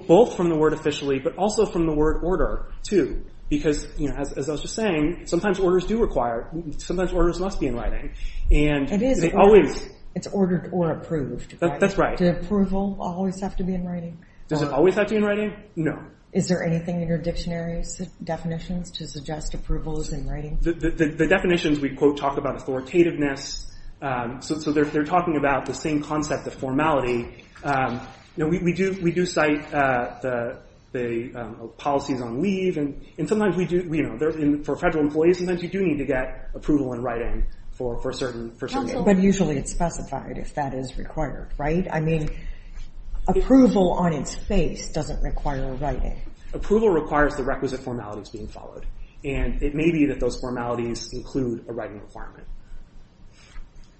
Both from the word officially, but also from the word order too, because as I was just saying, sometimes orders do require, sometimes orders must be in writing. It's ordered or approved. That's right. Does approval always have to be in writing? Does it always have to be in writing? No. Is there anything in your dictionary's definitions to suggest approval is in writing? The definitions we quote talk about authoritativeness, so they're talking about the same concept of formality. We do cite the policies on leave, and sometimes we do, for federal employees, sometimes you do need to get approval in writing for certain things. Approval on its face doesn't require writing. Approval requires the requisite formalities being followed, and it may be that those formalities include a writing requirement.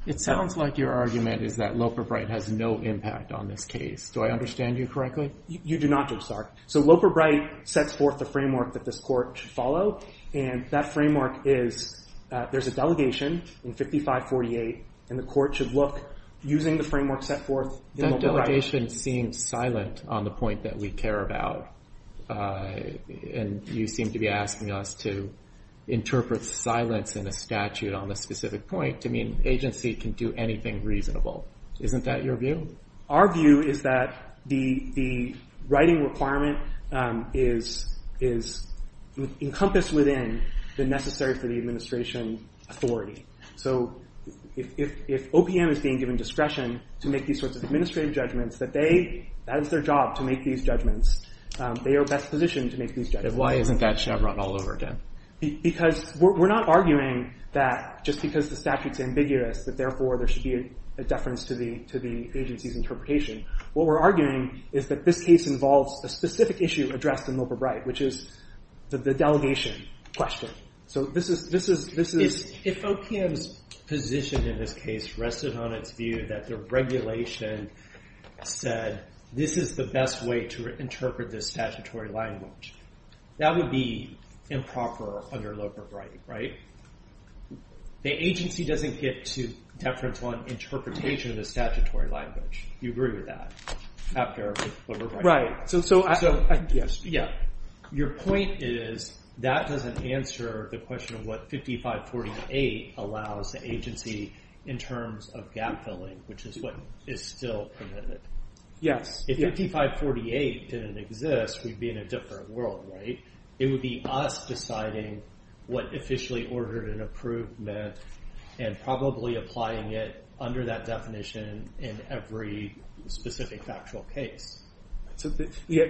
It sounds like your argument is that Loper-Bright has no impact on this case. Do I understand you correctly? You do not, Judge Stark. So Loper-Bright sets forth the framework that this court should follow, and that framework is there's a delegation in 5548, and the court should look, using the framework set forth in Loper-Bright. That delegation seems silent on the point that we care about, and you seem to be asking us to interpret silence in a statute on a specific point to mean agency can do anything reasonable. Isn't that your view? Our view is that the writing requirement is encompassed within the necessary for the administration authority. So if OPM is being given discretion to make these sorts of administrative judgments, that they that is their job to make these judgments. They are best positioned to make these judgments. Why isn't that Chevron all over again? Because we're not arguing that just because the statute's ambiguous that therefore there should be a deference to the agency's interpretation. What we're arguing is that this case involves a specific issue addressed in Loper-Bright, which is the delegation question. If OPM's position in this case rested on its view that the regulation said this is the best way to interpret this statutory language, that would be improper under Loper-Bright, right? The agency doesn't get to deference on interpretation of the statutory language. Do you agree with that? After Loper-Bright. Right. Your point is that doesn't answer the question of what 5548 allows the agency in terms of gap filling, which is what is still permitted. If 5548 didn't exist, we'd be in a different world, right? It would be us deciding what officially ordered an approvement and probably applying it under that definition in every specific factual case. Then you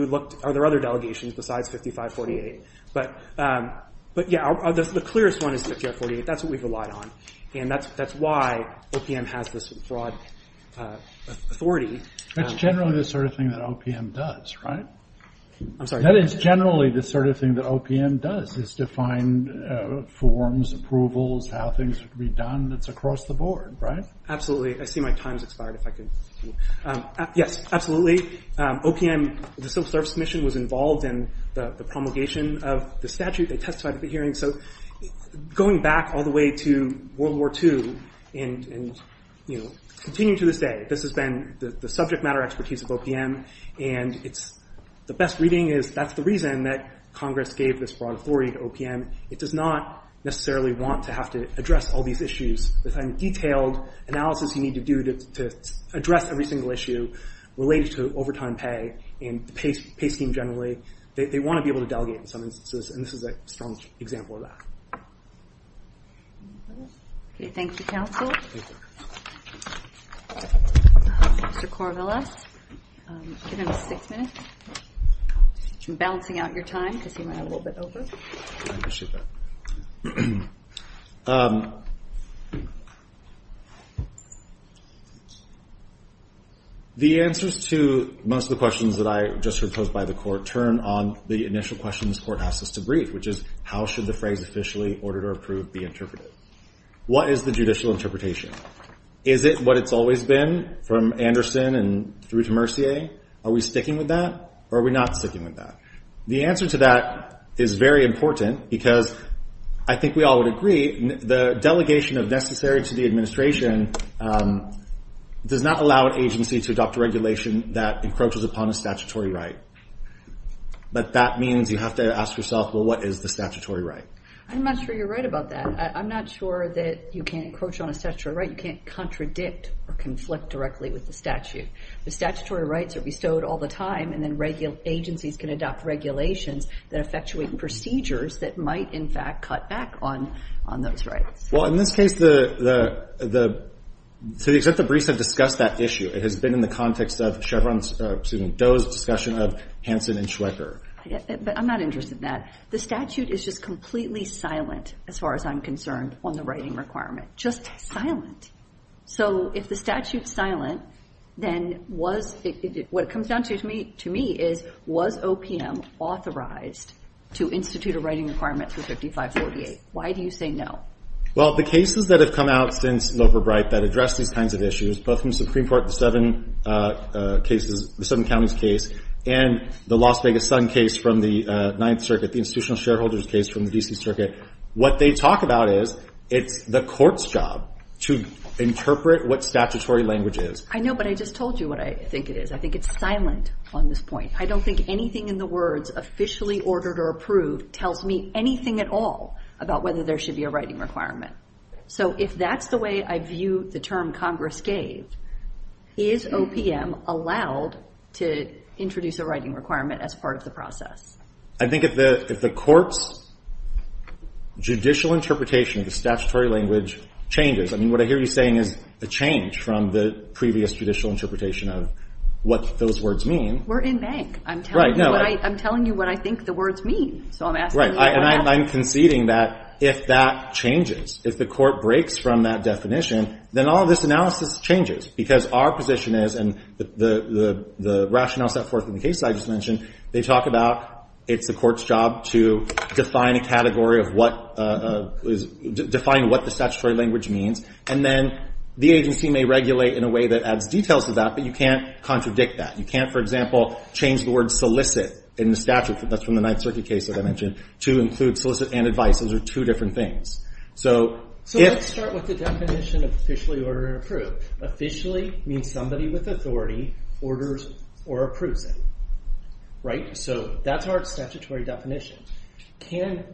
would look, are there other delegations besides 5548? The clearest one is 5548. That's what we've relied on. That's why OPM has this broad authority. That's generally the sort of thing that OPM does, right? That is generally the sort of thing that OPM does, is define forms, approvals, how things would be done. It's across the board, right? Absolutely. I see my time's Yes, absolutely. OPM, the Civil Service Commission was involved in the promulgation of the statute. They testified at the hearing. Going back all the way to World War II and continuing to this day, this has been the subject matter expertise of OPM and the best reading is that's the reason that Congress gave this broad authority to OPM. It does not necessarily want to have to address all these issues. The kind of detailed analysis you need to do to address every single issue related to overtime pay and pay scheme generally, they want to be able to delegate in some instances, and this is a strong example of that. Thank you, counsel. Mr. Corvallis, give him six minutes. I'm balancing out your time because he might have a little bit over. I appreciate that. The answers to most of the questions that I just heard posed by the court turn on the initial questions the court asks us to brief, which is how should the phrase officially, ordered or approved, be interpreted? What is the judicial interpretation? Is it what it's always been from Anderson and through to Mercier? Are we sticking with that or are we not sticking with that? The answer to that is very important because I think we all would agree, the delegation of necessary to the administration does not allow an agency to adopt a regulation that encroaches upon a statutory right. But that means you have to ask yourself, well, what is the statutory right? I'm not sure you're right about that. I'm not sure that you can't encroach on a statutory right. You can't contradict or conflict directly with the statute. The statutory rights are bestowed all the time and then agencies can adopt regulations that effectuate procedures that might, in fact, cut back on those rights. In this case, to the extent that Brice has discussed that issue, it has been in the context of Doe's discussion of Hansen and Schwecker. I'm not interested in that. The statute is just completely silent, as far as I'm concerned, on the writing requirement. Just silent. If the statute's silent, then what it comes down to, to me, is was OPM authorized to institute a writing requirement for 5548? Why do you say no? Well, the cases that have come out since Loper-Brite that address these kinds of issues, both from Supreme Court, the Seven Counties case, and the Las Vegas Sun case from the Ninth Circuit, the institutional shareholders case from the D.C. Circuit, what they talk about is it's the court's job to interpret what statutory language is. I know, but I just told you what I think it is. I think it's silent on this point. I don't think anything in the words, officially ordered or approved, tells me anything at all about whether there should be a writing requirement. So if that's the way I view the term Congress gave, is OPM allowed to introduce a writing requirement as part of the process? I think if the court's judicial interpretation of the statutory language changes, I mean, what I hear you saying is a change from the previous judicial interpretation of what those words mean. We're in bank. I'm telling you what I think the words mean. So I'm asking you what happens. Right, and I'm conceding that if that changes, if the court breaks from that definition, then all this analysis changes because our position is, and the rationale set forth in the case I just mentioned, they talk about it's the court's job to define a category of what define what the statutory language means, and then the agency may regulate in a way that adds details to that, but you can't contradict that. You can't, for example, change the word solicit in the statute, that's from the Ninth Circuit case that I mentioned, to include solicit and advice. Those are two different things. So let's start with the definition of officially ordered or approved. Officially means somebody with authority orders or approves it. Right, so that's our statutory definition. Can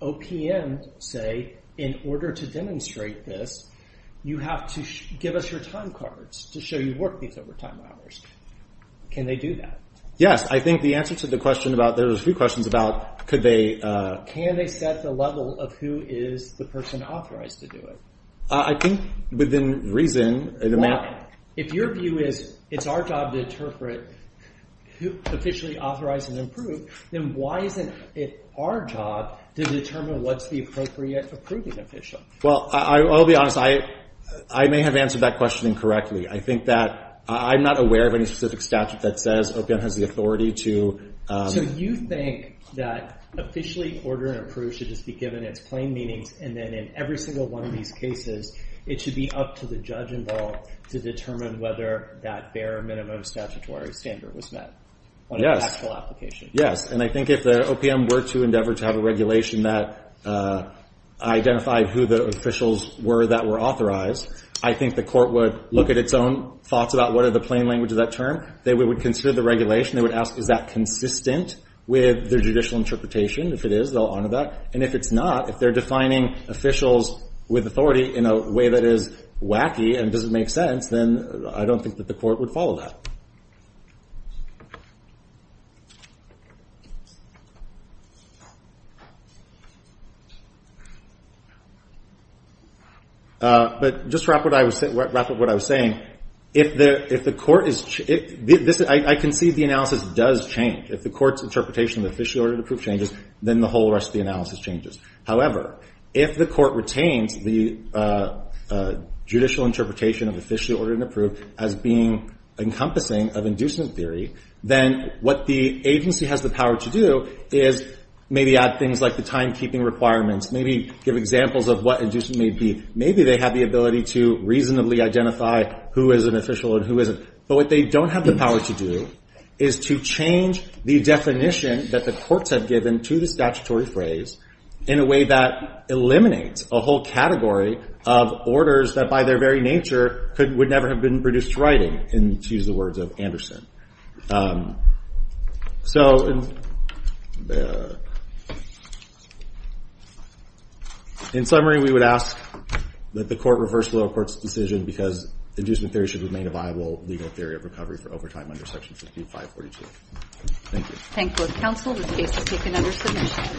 OPM say, in order to demonstrate this, you have to give us your time cards to show you've worked these overtime hours. Can they do that? Yes, I think the answer to the question about, there was a few questions about, could they... Can they set the level of who is the person authorized to do it? I think within reason... Why? If your view is it's our job to interpret who officially authorizes and approve, then why isn't it our job to determine what's the appropriate approving official? Well, I'll be honest, I may have answered that question incorrectly. I think that, I'm not aware of any specific statute that says OPM has the authority to... So you think that officially ordered and approved should just be given its plain meanings and then in every single one of these cases it should be up to the judge involved to determine whether that bare minimum statutory standard was met on an actual application? Yes, and I think if the OPM were to endeavor to have a regulation that identified who the officials were that were authorized, I think the court would look at its own thoughts about what are the plain languages of that term. They would consider the regulation. They would ask, is that consistent with their judicial interpretation? If it is, they'll honor that. And if it's not, if they're defining officials with authority in a way that is wacky and doesn't make sense, then I don't think that the court would follow that. But just wrap up what I was saying. If the court is... I concede the analysis does change. If the court's interpretation of the officially ordered and approved changes, then the whole rest of the analysis changes. However, if the court retains the judicial interpretation of officially ordered and approved as being encompassing of inducement theory, then what the agency has the power to do is maybe add things like the timekeeping requirements. Maybe give examples of what inducement may be. Maybe they have the ability to reasonably identify who is an official and who isn't. But what they don't have the power to do is to change the definition that the courts have given to the statutory phrase in a way that eliminates a whole category of orders that by their very nature would never have been produced writing, to use the words of Anderson. In summary, we would ask that the court reverse the lower court's decision because inducement theory should remain a viable legal theory of recovery for overtime under Section 5542. Thank you.